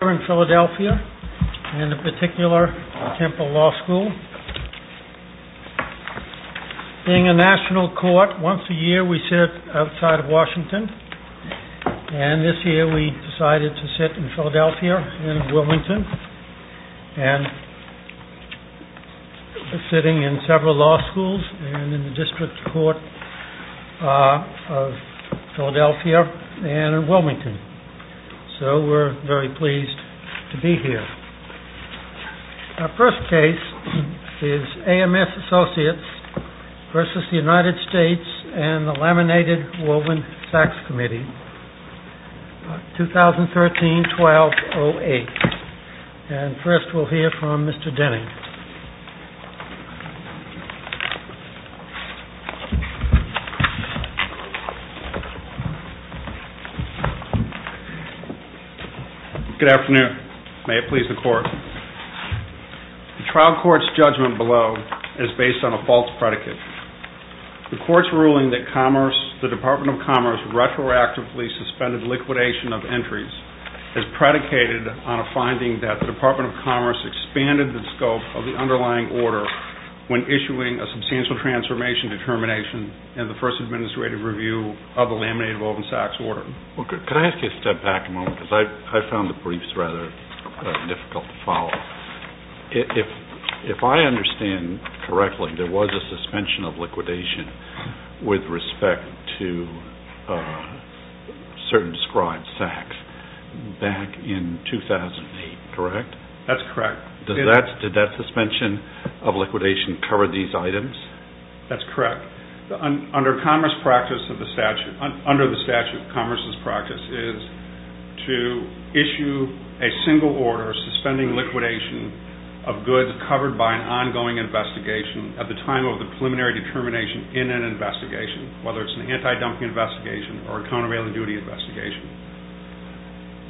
We are in Philadelphia in a particular Temple Law School. Being a national court, once a year we sit outside of Washington. And this year we decided to sit in Philadelphia and Wilmington. And we are sitting in several law schools in the District Court of Philadelphia and in Wilmington. So we are very pleased to be here. Our first case is AMS ASSOCIATES v. United States and the Laminated Woven Sachs Committee, 2013-12-08. And first we will hear from Mr. Denning. Good afternoon. May it please the Court. The trial court's judgment below is based on a false predicate. The court's ruling that the Department of Commerce retroactively suspended liquidation of entries is predicated on a finding that the Department of Commerce expanded the scope of the underlying order when issuing a substantial transformation determination in the first administrative review of the Laminated Woven Sachs order. Could I ask you to step back a moment? I found the briefs rather difficult to follow. If I understand correctly, there was a suspension of liquidation with respect to certain described sachs back in 2008, correct? That's correct. Did that suspension of liquidation cover these items? That's correct. Under the statute of commerce's practice is to issue a single order suspending liquidation of goods covered by an ongoing investigation at the time of the preliminary determination in an investigation, whether it's an anti-dumping investigation or a countervailing duty investigation.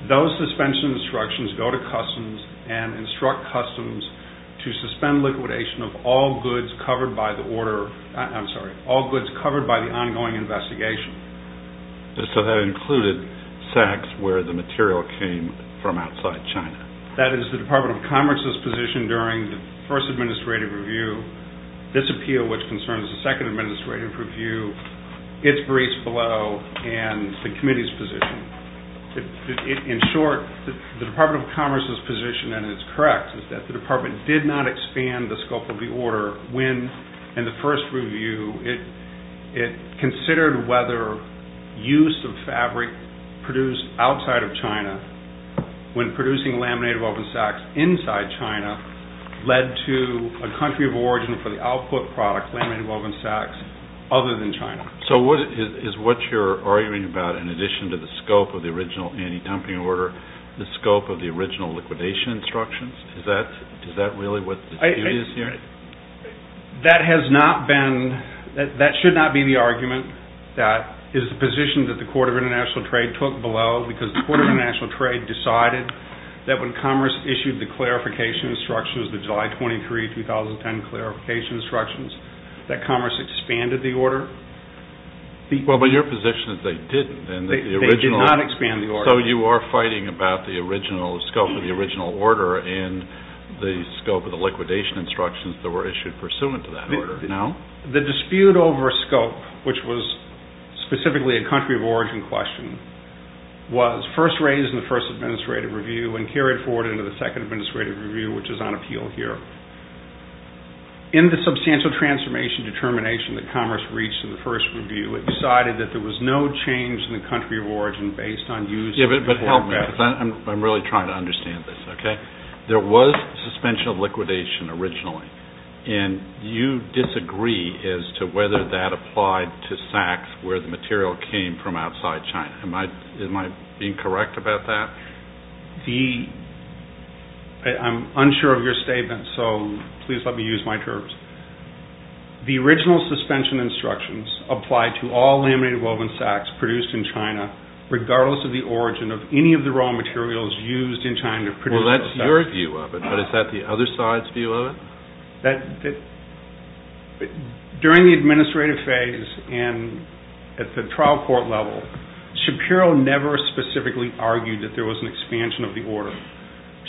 Those suspension instructions go to customs and instruct customs to suspend liquidation of all goods covered by the order, I'm sorry, all goods covered by the ongoing investigation. So that included sachs where the material came from outside China? That is the Department of Commerce's position during the first administrative review, this appeal which concerns the second administrative review, its briefs below and the committee's position. In short, the Department of Commerce's position, and it's correct, is that the department did not expand the scope of the order when in the first review it considered whether use of fabric produced outside of China when producing Laminated Woven Sachs inside China led to a country of origin for the output product, Laminated Woven Sachs, other than China. So is what you're arguing about, in addition to the scope of the original anti-dumping order, the scope of the original liquidation instructions? Is that really what the dispute is here? That has not been, that should not be the argument. That is the position that the Court of International Trade took below because the Court of International Trade decided that when Commerce issued the clarification instructions, the July 23, 2010 clarification instructions, that Commerce expanded the order? Well, but your position is they didn't. They did not expand the order. So you are fighting about the original scope of the original order and the scope of the liquidation instructions that were issued pursuant to that order, no? The dispute over scope, which was specifically a country of origin question, was first raised in the First Administrative Review and carried forward into the Second Administrative Review, which is on appeal here. In the substantial transformation determination that Commerce reached in the First Review, it decided that there was no change in the country of origin based on use of foreign material. Yeah, but help me, because I'm really trying to understand this, okay? There was suspension of liquidation originally, and you disagree as to whether that applied to Sachs, where the material came from outside China. Am I being correct about that? I'm unsure of your statement, so please let me use my terms. The original suspension instructions applied to all laminated woven sacks produced in China, regardless of the origin of any of the raw materials used in China producing the sacks. Well, that's your view of it, but is that the other side's view of it? During the administrative phase and at the trial court level, Shapiro never specifically argued that there was an expansion of the order.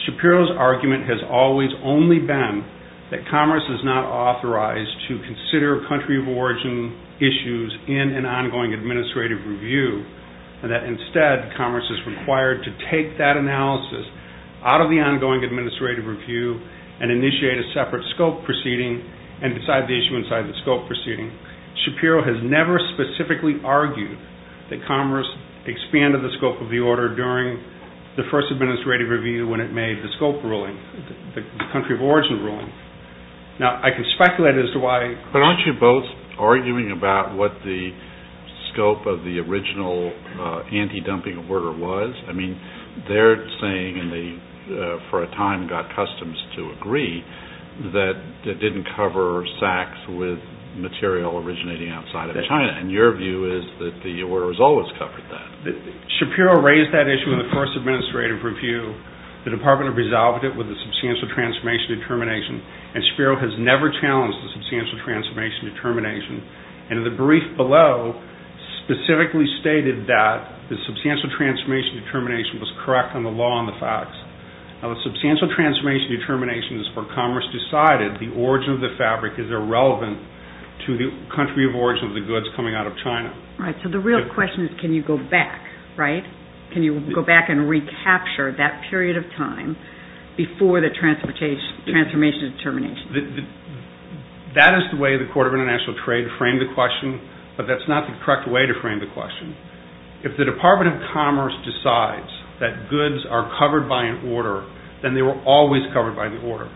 Shapiro's argument has always only been that Commerce is not authorized to consider country of origin issues in an ongoing administrative review, and that instead Commerce is required to take that analysis out of the ongoing administrative review and initiate a separate scope proceeding and decide the issue inside the scope proceeding. Shapiro has never specifically argued that Commerce expanded the scope of the order during the first administrative review when it made the scope ruling, the country of origin ruling. Now, I can speculate as to why... But aren't you both arguing about what the scope of the original anti-dumping order was? I mean, they're saying, and they for a time got customs to agree, that it didn't cover sacks with material originating outside of China. And your view is that the order has always covered that. Shapiro raised that issue in the first administrative review. The department resolved it with a substantial transformation determination, and Shapiro has never challenged the substantial transformation determination. And in the brief below, specifically stated that the substantial transformation determination was correct on the law and the facts. Now, the substantial transformation determination is where Commerce decided the origin of the fabric is irrelevant to the country of origin of the goods coming out of China. Right. So the real question is, can you go back, right? Can you go back and recapture that period of time before the transformation determination? That is the way the Court of International Trade framed the question, but that's not the correct way to frame the question. If the Department of Commerce decides that goods are covered by an order, then they were always covered by the order.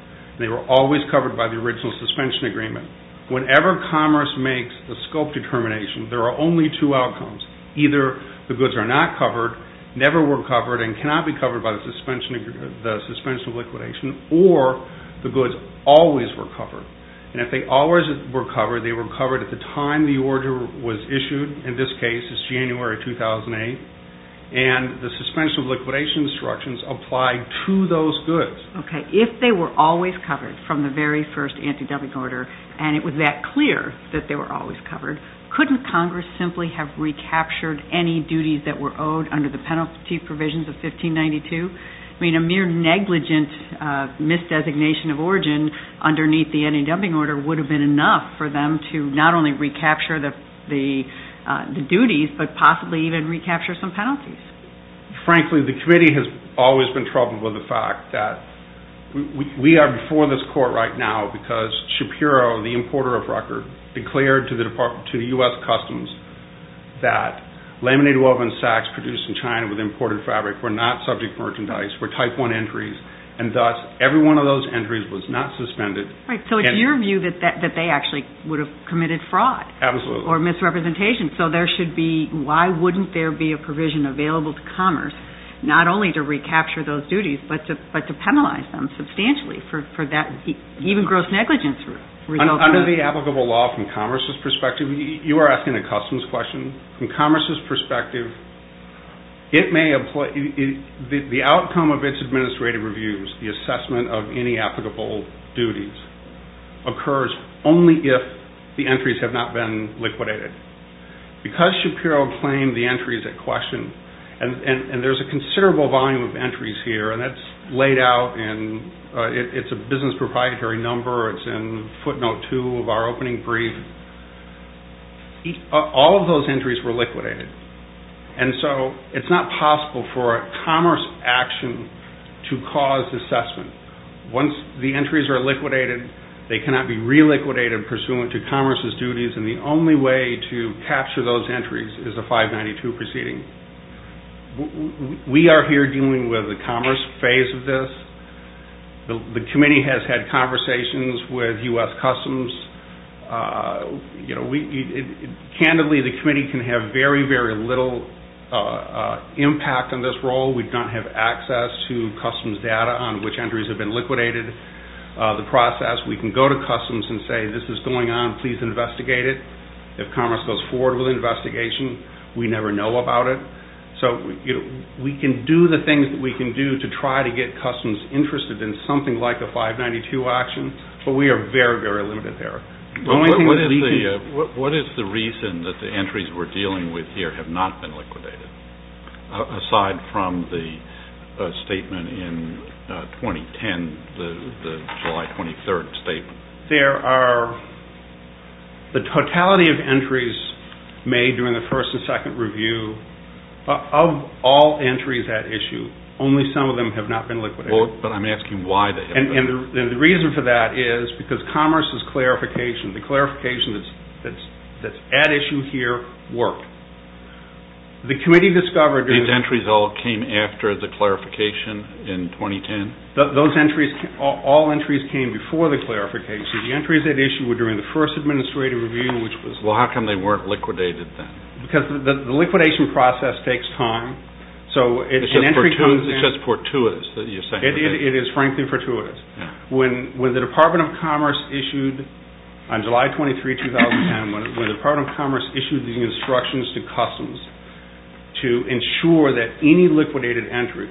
They were always covered by the original suspension agreement. Whenever Commerce makes the scope determination, there are only two outcomes. Either the goods are not covered, never were covered, and cannot be covered by the suspension of liquidation, or the goods always were covered. And if they always were covered, they were covered at the time the order was issued. In this case, it's January 2008. And the suspension of liquidation instructions apply to those goods. Okay. If they were always covered from the very first anti-dumping order, and it was that clear that they were always covered, couldn't Congress simply have recaptured any duties that were owed under the penalty provisions of 1592? I mean, a mere negligent misdesignation of origin underneath the anti-dumping order would have been enough for them to not only recapture the duties, but possibly even recapture some penalties. Frankly, the committee has always been troubled with the fact that we are before this court right now because Shapiro, the importer of record, declared to the U.S. Customs that laminated woven sacks produced in China with imported fabric were not subject to merchandise, were type 1 entries, and thus every one of those entries was not suspended. Right. So it's your view that they actually would have committed fraud. Absolutely. Or misrepresentation. So there should be, why wouldn't there be a provision available to Commerce not only to recapture those duties, but to penalize them substantially for that even gross negligence? Under the applicable law from Commerce's perspective, you are asking a Customs question. From Commerce's perspective, the outcome of its administrative reviews, the assessment of any applicable duties, occurs only if the entries have not been liquidated. Because Shapiro claimed the entries at question, and there's a considerable volume of entries here, and that's laid out in, it's a business proprietary number, it's in footnote 2 of our opening brief, all of those entries were liquidated. And so it's not possible for a Commerce action to cause assessment. Once the entries are liquidated, they cannot be re-liquidated pursuant to Commerce's duties, and the only way to capture those entries is a 592 proceeding. We are here dealing with the Commerce phase of this. The committee has had conversations with U.S. Customs. Candidly, the committee can have very, very little impact on this role. We don't have access to Customs data on which entries have been liquidated. The process, we can go to Customs and say, this is going on, please investigate it. If Commerce goes forward with an investigation, we never know about it. So we can do the things that we can do to try to get Customs interested in something like the 592 action, but we are very, very limited there. What is the reason that the entries we're dealing with here have not been liquidated? Aside from the statement in 2010, the July 23rd statement. There are, the totality of entries made during the first and second review, of all entries at issue, only some of them have not been liquidated. But I'm asking why they haven't been. And the reason for that is because Commerce's clarification, the clarification that's at issue here worked. The committee discovered... These entries all came after the clarification in 2010? Those entries, all entries came before the clarification. The entries at issue were during the first administrative review, which was... Well, how come they weren't liquidated then? Because the liquidation process takes time. So an entry comes in... It's just fortuitous that you're saying that. It is frankly fortuitous. When the Department of Commerce issued, on July 23, 2010, when the Department of Commerce issued these instructions to Customs to ensure that any liquidated entry,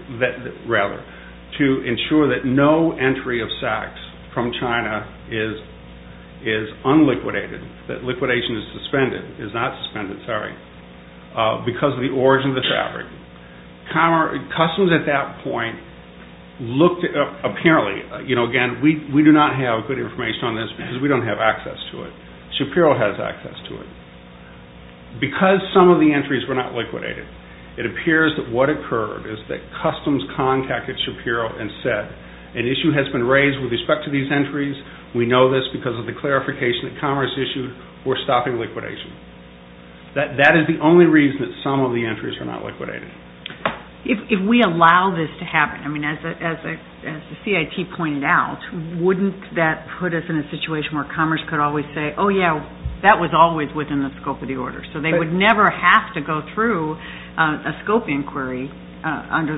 rather, to ensure that no entry of sacks from China is unliquidated, that liquidation is suspended, is not suspended, sorry, because of the origin of the fabric, Customs at that point looked, apparently, again, we do not have good information on this because we don't have access to it. Because some of the entries were not liquidated, it appears that what occurred is that Customs contacted Shapiro and said an issue has been raised with respect to these entries. We know this because of the clarification that Commerce issued. We're stopping liquidation. That is the only reason that some of the entries are not liquidated. If we allow this to happen, I mean, as the CIT pointed out, wouldn't that put us in a situation where Commerce could always say, oh yeah, that was always within the scope of the order. So they would never have to go through a scope inquiry under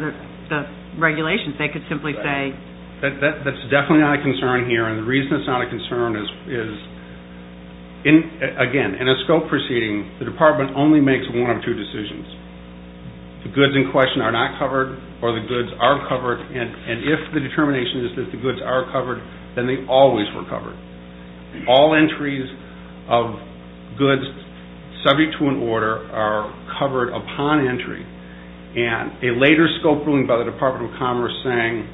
the regulations. They could simply say... That's definitely not a concern here. And the reason it's not a concern is, again, in a scope proceeding, the Department only makes one of two decisions. The goods in question are not covered, or the goods are covered, and if the determination is that the goods are covered, then they always were covered. All entries of goods subject to an order are covered upon entry. And a later scope ruling by the Department of Commerce saying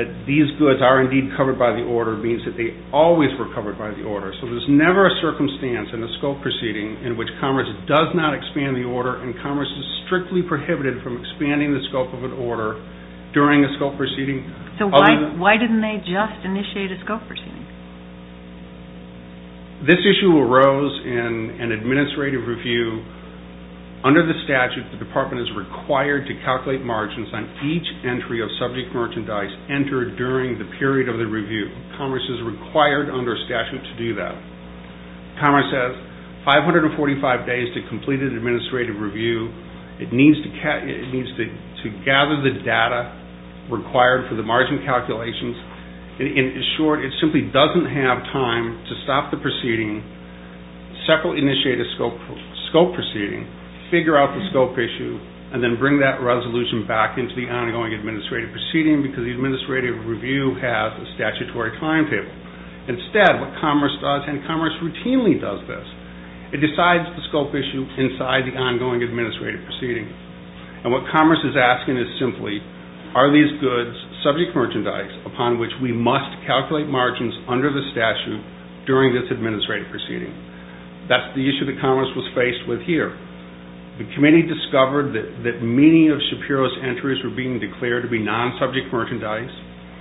that these goods are indeed covered by the order means that they always were covered by the order. So there's never a circumstance in a scope proceeding in which Commerce does not expand the order and Commerce is strictly prohibited from expanding the scope of an order during a scope proceeding. So why didn't they just initiate a scope proceeding? This issue arose in an administrative review. Under the statute, the Department is required to calculate margins on each entry of subject merchandise entered during the period of the review. Commerce is required under statute to do that. Commerce has 545 days to complete an administrative review. It needs to gather the data required for the margin calculations. In short, it simply doesn't have time to stop the proceeding, separately initiate a scope proceeding, figure out the scope issue, and then bring that resolution back into the ongoing administrative proceeding because the administrative review has a statutory timetable. Instead, what Commerce does, and Commerce routinely does this, it decides the scope issue inside the ongoing administrative proceeding. And what Commerce is asking is simply, are these goods subject merchandise upon which we must calculate margins under the statute during this administrative proceeding? That's the issue that Commerce was faced with here. The committee discovered that many of Shapiro's entries were being declared to be non-subject merchandise.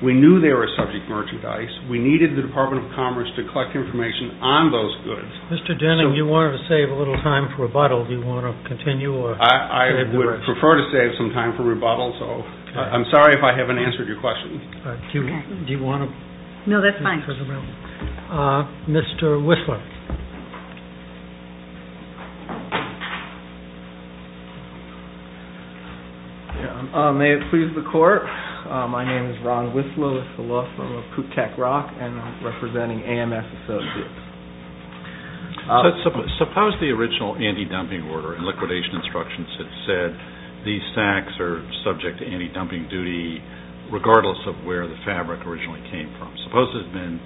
We knew they were subject merchandise. We needed the Department of Commerce to collect information on those goods. Mr. Denning, you wanted to save a little time for rebuttal. Do you want to continue? I would prefer to save some time for rebuttal, so I'm sorry if I haven't answered your question. Do you want to continue for rebuttal? No, that's fine. Mr. Whistler. May it please the Court. My name is Ron Whistler. I'm a law firm of Kutek Rock and I'm representing AMS Associates. Suppose the original anti-dumping order and liquidation instructions had said these sacks are subject to anti-dumping duty regardless of where the fabric originally came from. Suppose it had been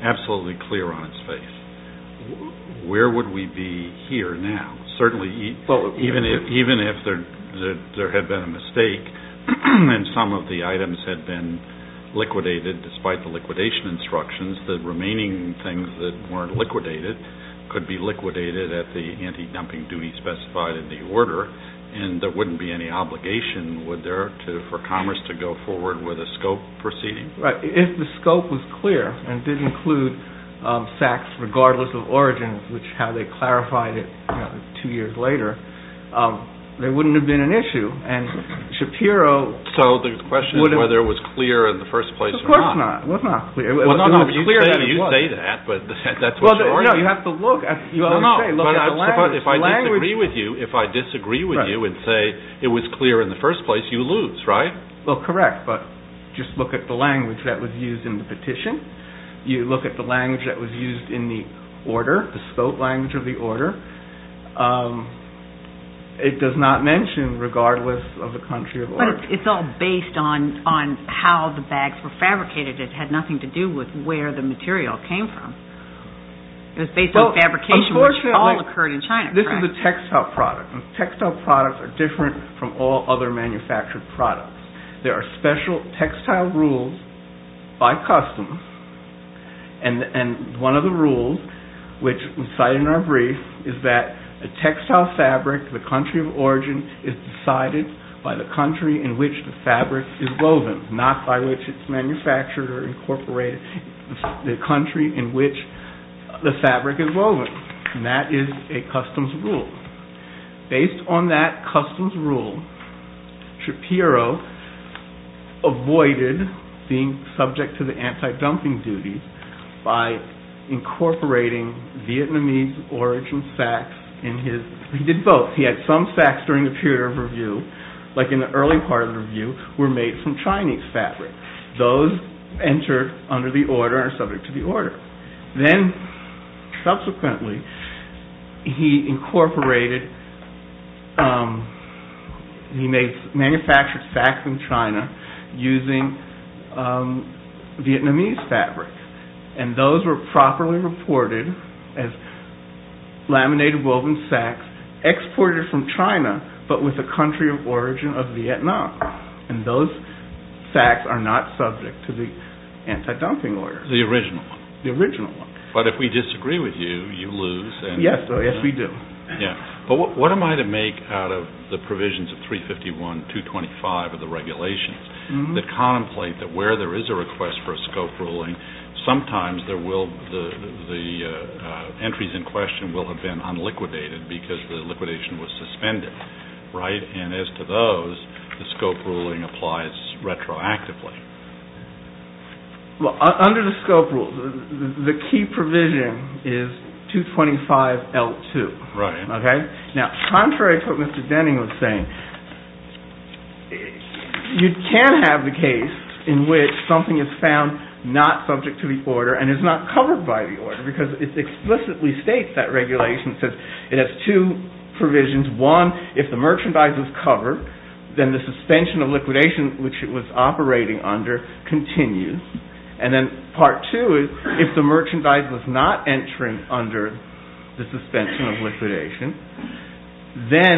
absolutely clear on its face. Where would we be here now? Certainly, even if there had been a mistake and some of the items had been liquidated despite the liquidation instructions, the remaining things that weren't liquidated could be liquidated at the anti-dumping duty specified in the order and there wouldn't be any obligation for Commerce to go forward with a scope proceeding. If the scope was clear and did include sacks regardless of origin, which is how they clarified it two years later, there wouldn't have been an issue. So the question is whether it was clear in the first place or not. Of course not. You say that, but that's what you're arguing. You have to look at the language. If I disagree with you and say it was clear in the first place, you lose, right? Well, correct, but just look at the language that was used in the petition. You look at the language that was used in the order, the spoke language of the order. It does not mention regardless of the country of origin. But it's all based on how the bags were fabricated. It had nothing to do with where the material came from. It was based on fabrication, which all occurred in China. This is a textile product. Textile products are different from all other manufactured products. There are special textile rules by customs. And one of the rules, which we cite in our brief, is that a textile fabric, the country of origin, is decided by the country in which the fabric is woven, not by which it's manufactured or incorporated. The country in which the fabric is woven. And that is a customs rule. Based on that customs rule, Shapiro avoided being subject to the anti-dumping duty by incorporating Vietnamese origin sacks in his... He did both. He had some sacks during the period of review, like in the early part of the review, were made from Chinese fabric. Those entered under the order and are subject to the order. Then, subsequently, he incorporated... He manufactured sacks in China using Vietnamese fabric. And those were properly reported as laminated woven sacks exported from China, but with the country of origin of Vietnam. And those sacks are not subject to the anti-dumping order. The original one. The original one. But if we disagree with you, you lose. Yes, we do. But what am I to make out of the provisions of 351.225 of the regulations that contemplate that where there is a request for a scope ruling, sometimes the entries in question will have been unliquidated because the liquidation was suspended. And as to those, the scope ruling applies retroactively. Well, under the scope rules, the key provision is 225.L2. Now, contrary to what Mr. Denning was saying, you can have the case in which something is found not subject to the order and is not covered by the order because it explicitly states that regulation. It says it has two provisions. One, if the merchandise is covered, then the suspension of liquidation, which it was operating under, continues. And then part two is, if the merchandise was not entering under the suspension of liquidation, then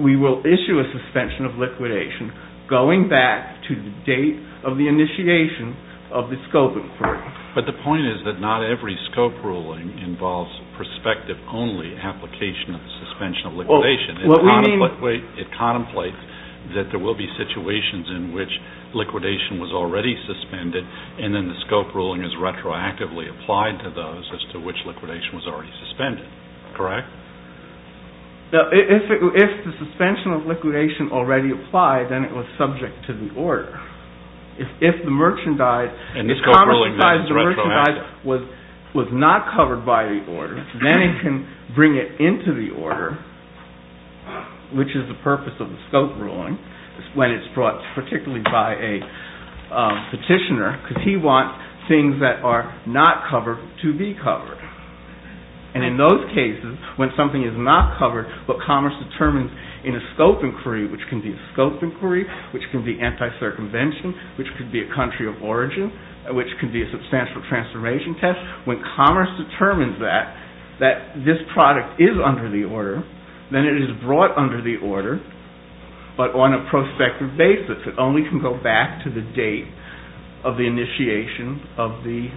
we will issue a suspension of liquidation going back to the date of the initiation of the scope inquiry. But the point is that not every scope ruling involves perspective-only application of the suspension of liquidation. It contemplates that there will be situations in which liquidation was already suspended and then the scope ruling is retroactively applied to those as to which liquidation was already suspended. Correct? If the suspension of liquidation already applied, then it was subject to the order. If the merchandise was not covered by the order, then it can bring it into the order, which is the purpose of the scope ruling, when it's brought particularly by a petitioner because he wants things that are not covered to be covered. And in those cases, when something is not covered, but commerce determines in a scope inquiry, which can be a scope inquiry, which can be anti-circumvention, which could be a country of origin, which could be a substantial transformation test. When commerce determines that, that this product is under the order, then it is brought under the order, but on a prospective basis. It only can go back to the date of the initiation of the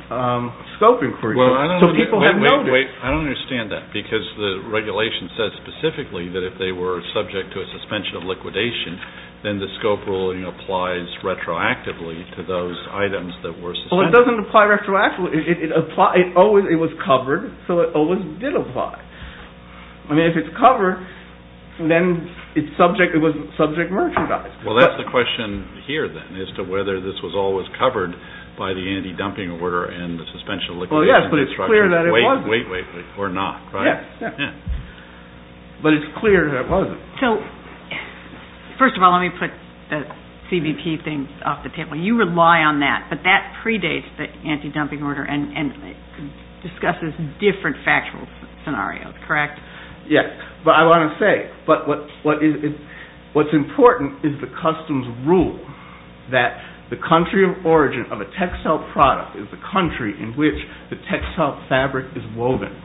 scope inquiry. So people have noticed. I don't understand that because the regulation says specifically that if they were subject to a suspension of liquidation, then the scope ruling applies retroactively to those items that were suspended. It doesn't apply retroactively. It was covered, so it always did apply. I mean, if it's covered, then it was subject-merchandised. Well, that's the question here, then, as to whether this was always covered by the anti-dumping order and the suspension of liquidation. Well, yes, but it's clear that it wasn't. Wait, wait, wait. Or not, right? But it's clear that it wasn't. So, first of all, let me put the CBP thing off the table. You rely on that, but that predates the anti-dumping order, and it discusses different factual scenarios, correct? Yes, but I want to say, what's important is the customs rule that the country of origin of a textile product is the country in which the textile fabric is woven.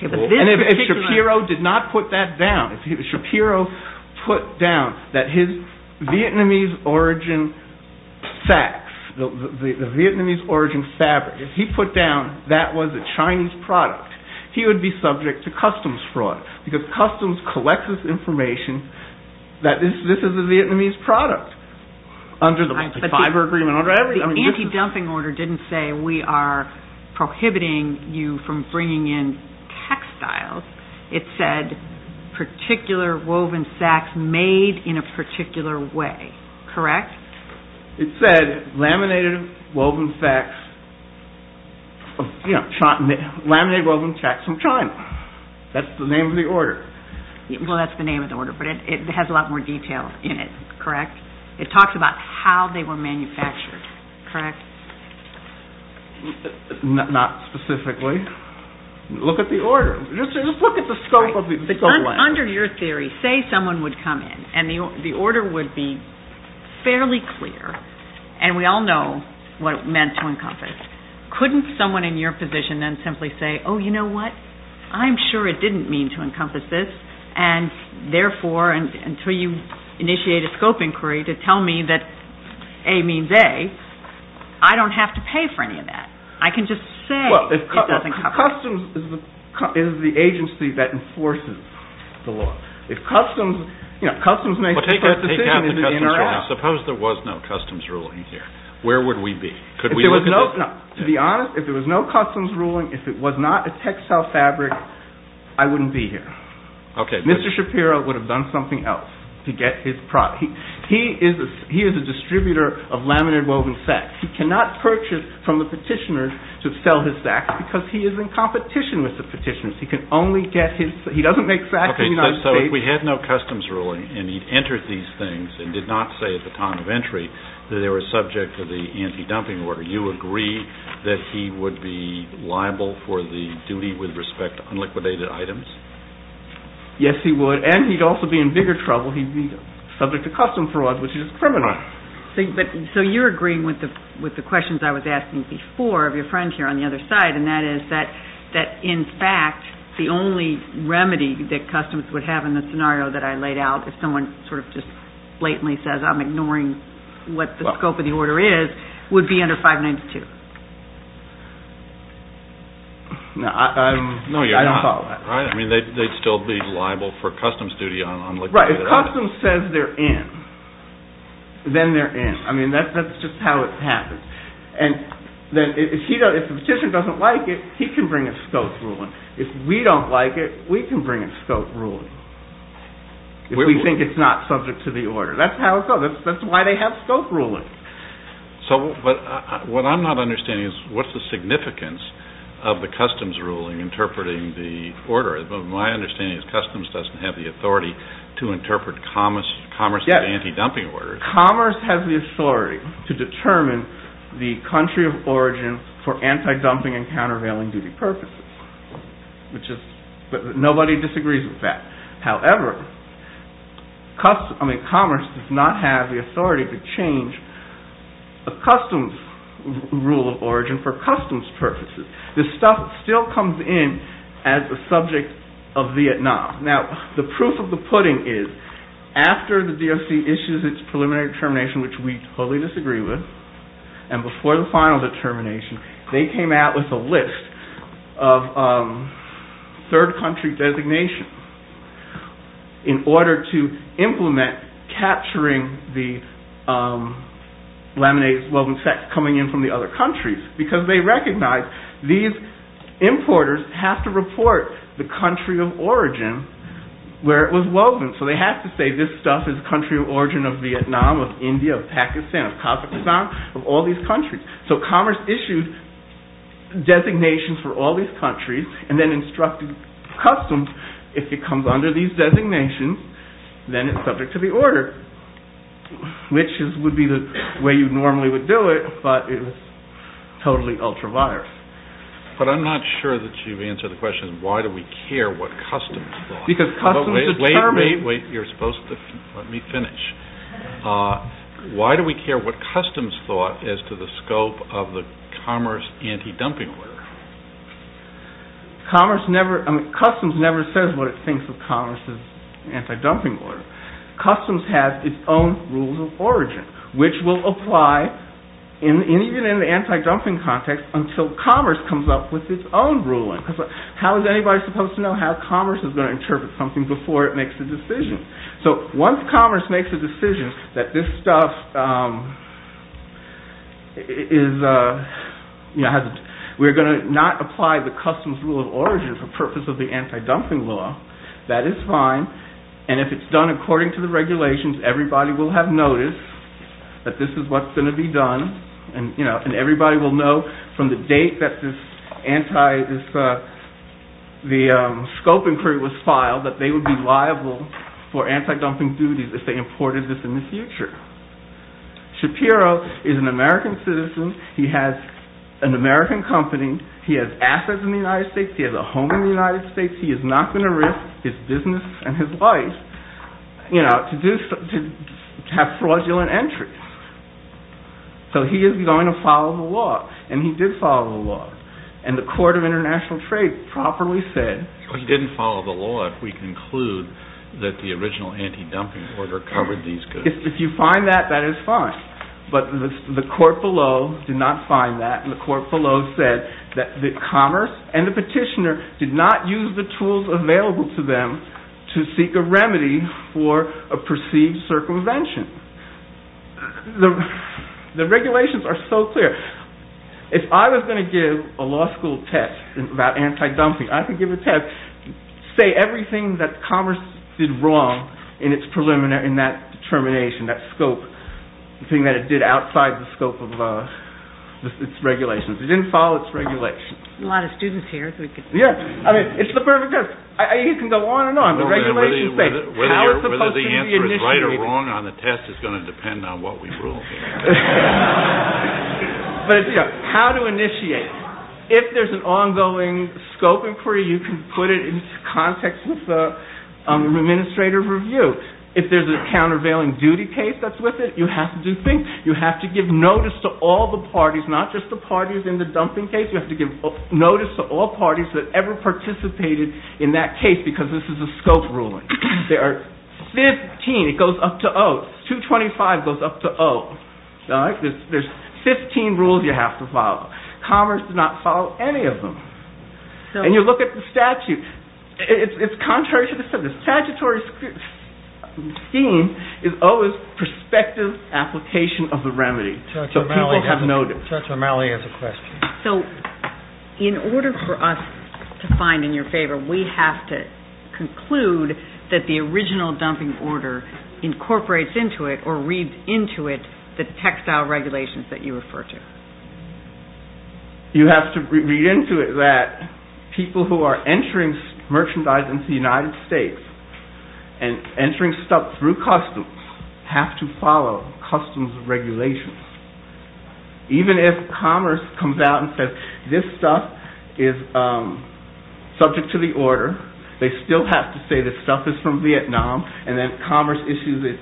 Shapiro did not put that down. Shapiro put down that his Vietnamese origin sacks, the Vietnamese origin fabric, if he put down that was a Chinese product, he would be subject to customs fraud because customs collects this information that this is a Vietnamese product under the fiber agreement. The anti-dumping order didn't say we are prohibiting you from bringing in textiles. It said particular woven sacks made in a particular way, correct? It said laminated woven sacks from China. That's the name of the order. Well, that's the name of the order, but it has a lot more detail in it, correct? It talks about how they were manufactured, correct? Not specifically. Look at the order. Just look at the scope of the order. Under your theory, say someone would come in and the order would be fairly clear, and we all know what it meant to encompass. Couldn't someone in your position then simply say, oh, you know what, I'm sure it didn't mean to encompass this, and therefore, until you initiate a scope inquiry to tell me that A means A, I don't have to pay for any of that. I can just say it doesn't cover it. Customs is the agency that enforces the law. If customs makes the first decision, is it in or out? Suppose there was no customs ruling here. Where would we be? To be honest, if there was no customs ruling, if it was not a textile fabric, I wouldn't be here. Mr. Shapiro would have done something else to get his product. He is a distributor of laminated woven sacks. He cannot purchase from the petitioners to sell his sacks because he is in competition with the petitioners. He can only get his, he doesn't make sacks in the United States. Okay, so if we had no customs ruling, and he'd entered these things and did not say at the time of entry that they were subject to the anti-dumping order, you agree that he would be liable for the duty with respect to unliquidated items? Yes, he would, and he'd also be in bigger trouble. He'd be subject to custom fraud, which is criminal. So you're agreeing with the questions I was asking before of your friend here on the other side, and that is that, in fact, the only remedy that customs would have in the scenario that I laid out, if someone sort of just blatantly says, I'm ignoring what the scope of the order is, would be under 592. No, I don't follow that. I mean, they'd still be liable for customs duty on unliquidated items. Right, if customs says they're in, then they're in. I mean, that's just how it happens. And if the petitioner doesn't like it, he can bring a scope ruling. If we don't like it, we can bring a scope ruling, if we think it's not subject to the order. That's how it goes. That's why they have scope rulings. So what I'm not understanding is, what's the significance of the customs ruling interpreting the order? My understanding is customs doesn't have the authority to interpret commerce and anti-dumping orders. Commerce has the authority to determine the country of origin for anti-dumping and countervailing duty purposes. But nobody disagrees with that. However, commerce does not have the authority to change the customs rule of origin for customs purposes. This stuff still comes in as a subject of Vietnam. Now, the proof of the pudding is, after the DOC issues its preliminary determination, which we totally disagree with, and before the final determination, they came out with a list of third country designation in order to implement capturing the laminated woven sex coming in from the other countries. Because they recognize these importers have to report the country of origin where it was woven. They have to say this stuff is the country of origin of Vietnam, of India, of Pakistan, of Kazakhstan, of all these countries. So commerce issued designations for all these countries and then instructed customs, if it comes under these designations, then it's subject to the order. Which would be the way you normally would do it, but it was totally ultra-virus. But I'm not sure that you've answered the question, why do we care what customs thought? Wait, wait, wait, you're supposed to let me finish. Why do we care what customs thought as to the scope of the commerce anti-dumping order? Customs never says what it thinks of commerce's anti-dumping order. Customs has its own rules of origin, which will apply even in an anti-dumping context until commerce comes up with its own ruling. How is anybody supposed to know how commerce is going to interpret something before it makes a decision? So once commerce makes a decision that this stuff is, we're going to not apply the customs rule of origin for purpose of the anti-dumping law, that is fine. And if it's done according to the regulations, everybody will have noticed that this is what's going to be done. And everybody will know from the date that the scope inquiry was filed that they would be liable for anti-dumping duties if they imported this in the future. Shapiro is an American citizen, he has an American company, he has assets in the United States, he has a home in the United States, he is not going to risk his business and his life to have fraudulent entries. So he is going to follow the law, and he did follow the law. And the Court of International Trade properly said... He didn't follow the law if we conclude that the original anti-dumping order covered these goods. If you find that, that is fine. But the court below did not find that, and the court below said that commerce and the petitioner did not use the tools available to them to seek a remedy for a perceived circumvention. The regulations are so clear. If I was going to give a law school test about anti-dumping, I could give a test, say everything that commerce did wrong in that determination, that scope, the thing that it did outside the scope of its regulations. It didn't follow its regulations. A lot of students here. It is the perfect test. You can go on and on. Whether the answer is right or wrong on the test is going to depend on what we rule. How to initiate. If there is an ongoing scope inquiry, you can put it into context of the administrative review. If there is a countervailing duty case that is with it, you have to do things. You have to give notice to all the parties, not just the parties in the dumping case. You have to give notice to all parties that ever participated in that case because this is a scope ruling. There are 15. It goes up to 0. 225 goes up to 0. There are 15 rules you have to follow. Commerce did not follow any of them. You look at the statute. It is contrary to the statute. The statutory scheme is always prospective application of the remedy. People have noticed. In order for us to find in your favor, we have to conclude that the original dumping order incorporates into it or reads into it the textile regulations that you refer to. You have to read into it that people who are entering merchandise into the United States and entering stuff through customs have to follow customs regulations. Even if commerce comes out and says this stuff is subject to the order, they still have to say this stuff is from Vietnam and then commerce issues a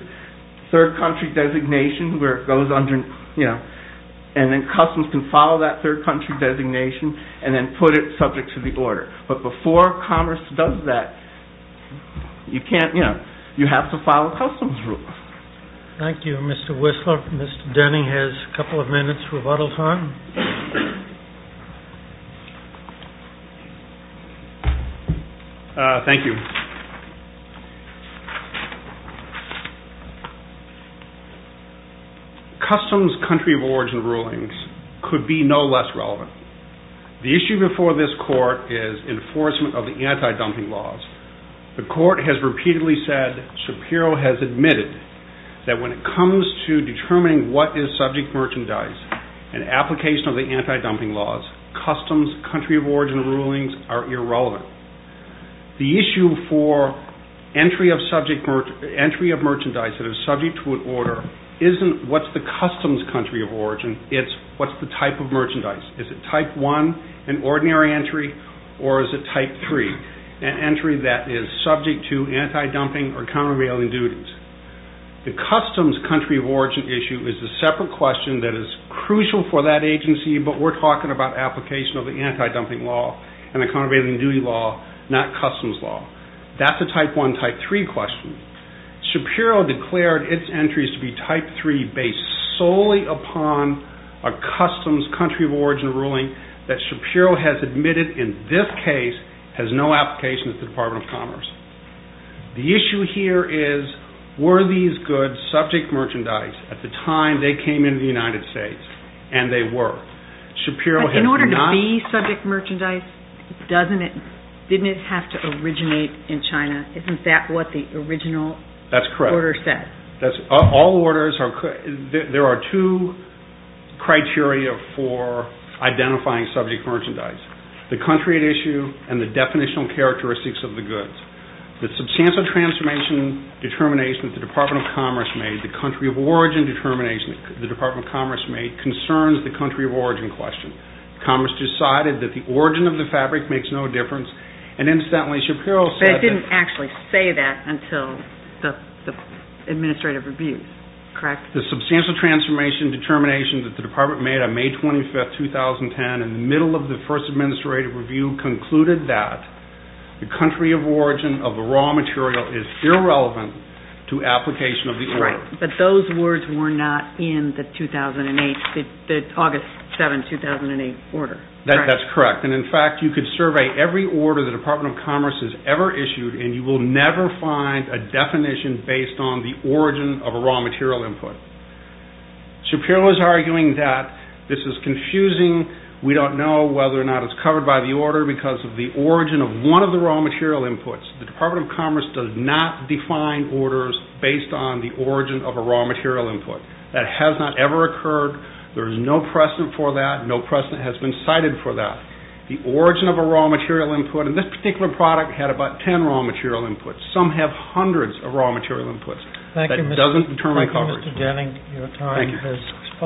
third country designation where it goes under and then customs can follow that third country designation and then put it subject to the order. Before commerce does that, you have to follow customs rules. Thank you, Mr. Whistler. Mr. Denning has a couple of minutes rebuttal time. Thank you. Customs country of origin rulings could be no less relevant. The issue before this court is enforcement of the anti-dumping laws. The court has repeatedly said Shapiro has admitted that when it comes to determining what is subject merchandise and application of the anti-dumping laws, customs country of origin rulings are irrelevant. The issue for entry of merchandise that is subject to an order isn't what's the customs country of origin, it's what's the type of merchandise. Is it type one, an ordinary entry, or is it type three, an entry that is subject to anti-dumping or countervailing duties. The customs country of origin issue is a separate question that is crucial for that agency, but we're talking about application of the anti-dumping law and the countervailing duty law, not customs law. The court has declared its entries to be type three based solely upon a customs country of origin ruling that Shapiro has admitted in this case has no application to the Department of Commerce. The issue here is were these goods subject merchandise at the time they came into the United States, and they were. Shapiro has not... In order to be subject merchandise, didn't it have to originate in China? Yes. There are two criteria for identifying subject merchandise. The country at issue and the definitional characteristics of the goods. The substantial transformation determination that the Department of Commerce made, the country of origin determination that the Department of Commerce made, concerns the country of origin question. Commerce decided that the origin of the fabric makes no difference, and incidentally Shapiro said... You didn't actually say that until the administrative review. Correct? The substantial transformation determination that the Department made on May 25, 2010 in the middle of the first administrative review concluded that the country of origin of the raw material is irrelevant to application of the order. Right, but those words were not in the 2008, the August 7, 2008 order. That's correct, and in fact you could survey every order and you will never find a definition based on the origin of a raw material input. Shapiro is arguing that this is confusing. We don't know whether or not it's covered by the order because of the origin of one of the raw material inputs. The Department of Commerce does not define orders based on the origin of a raw material input. That has not ever occurred. There is no precedent for that. There are hundreds of raw material inputs. Some have hundreds of raw material inputs. That doesn't determine coverage. Thank you, Mr. Jennings.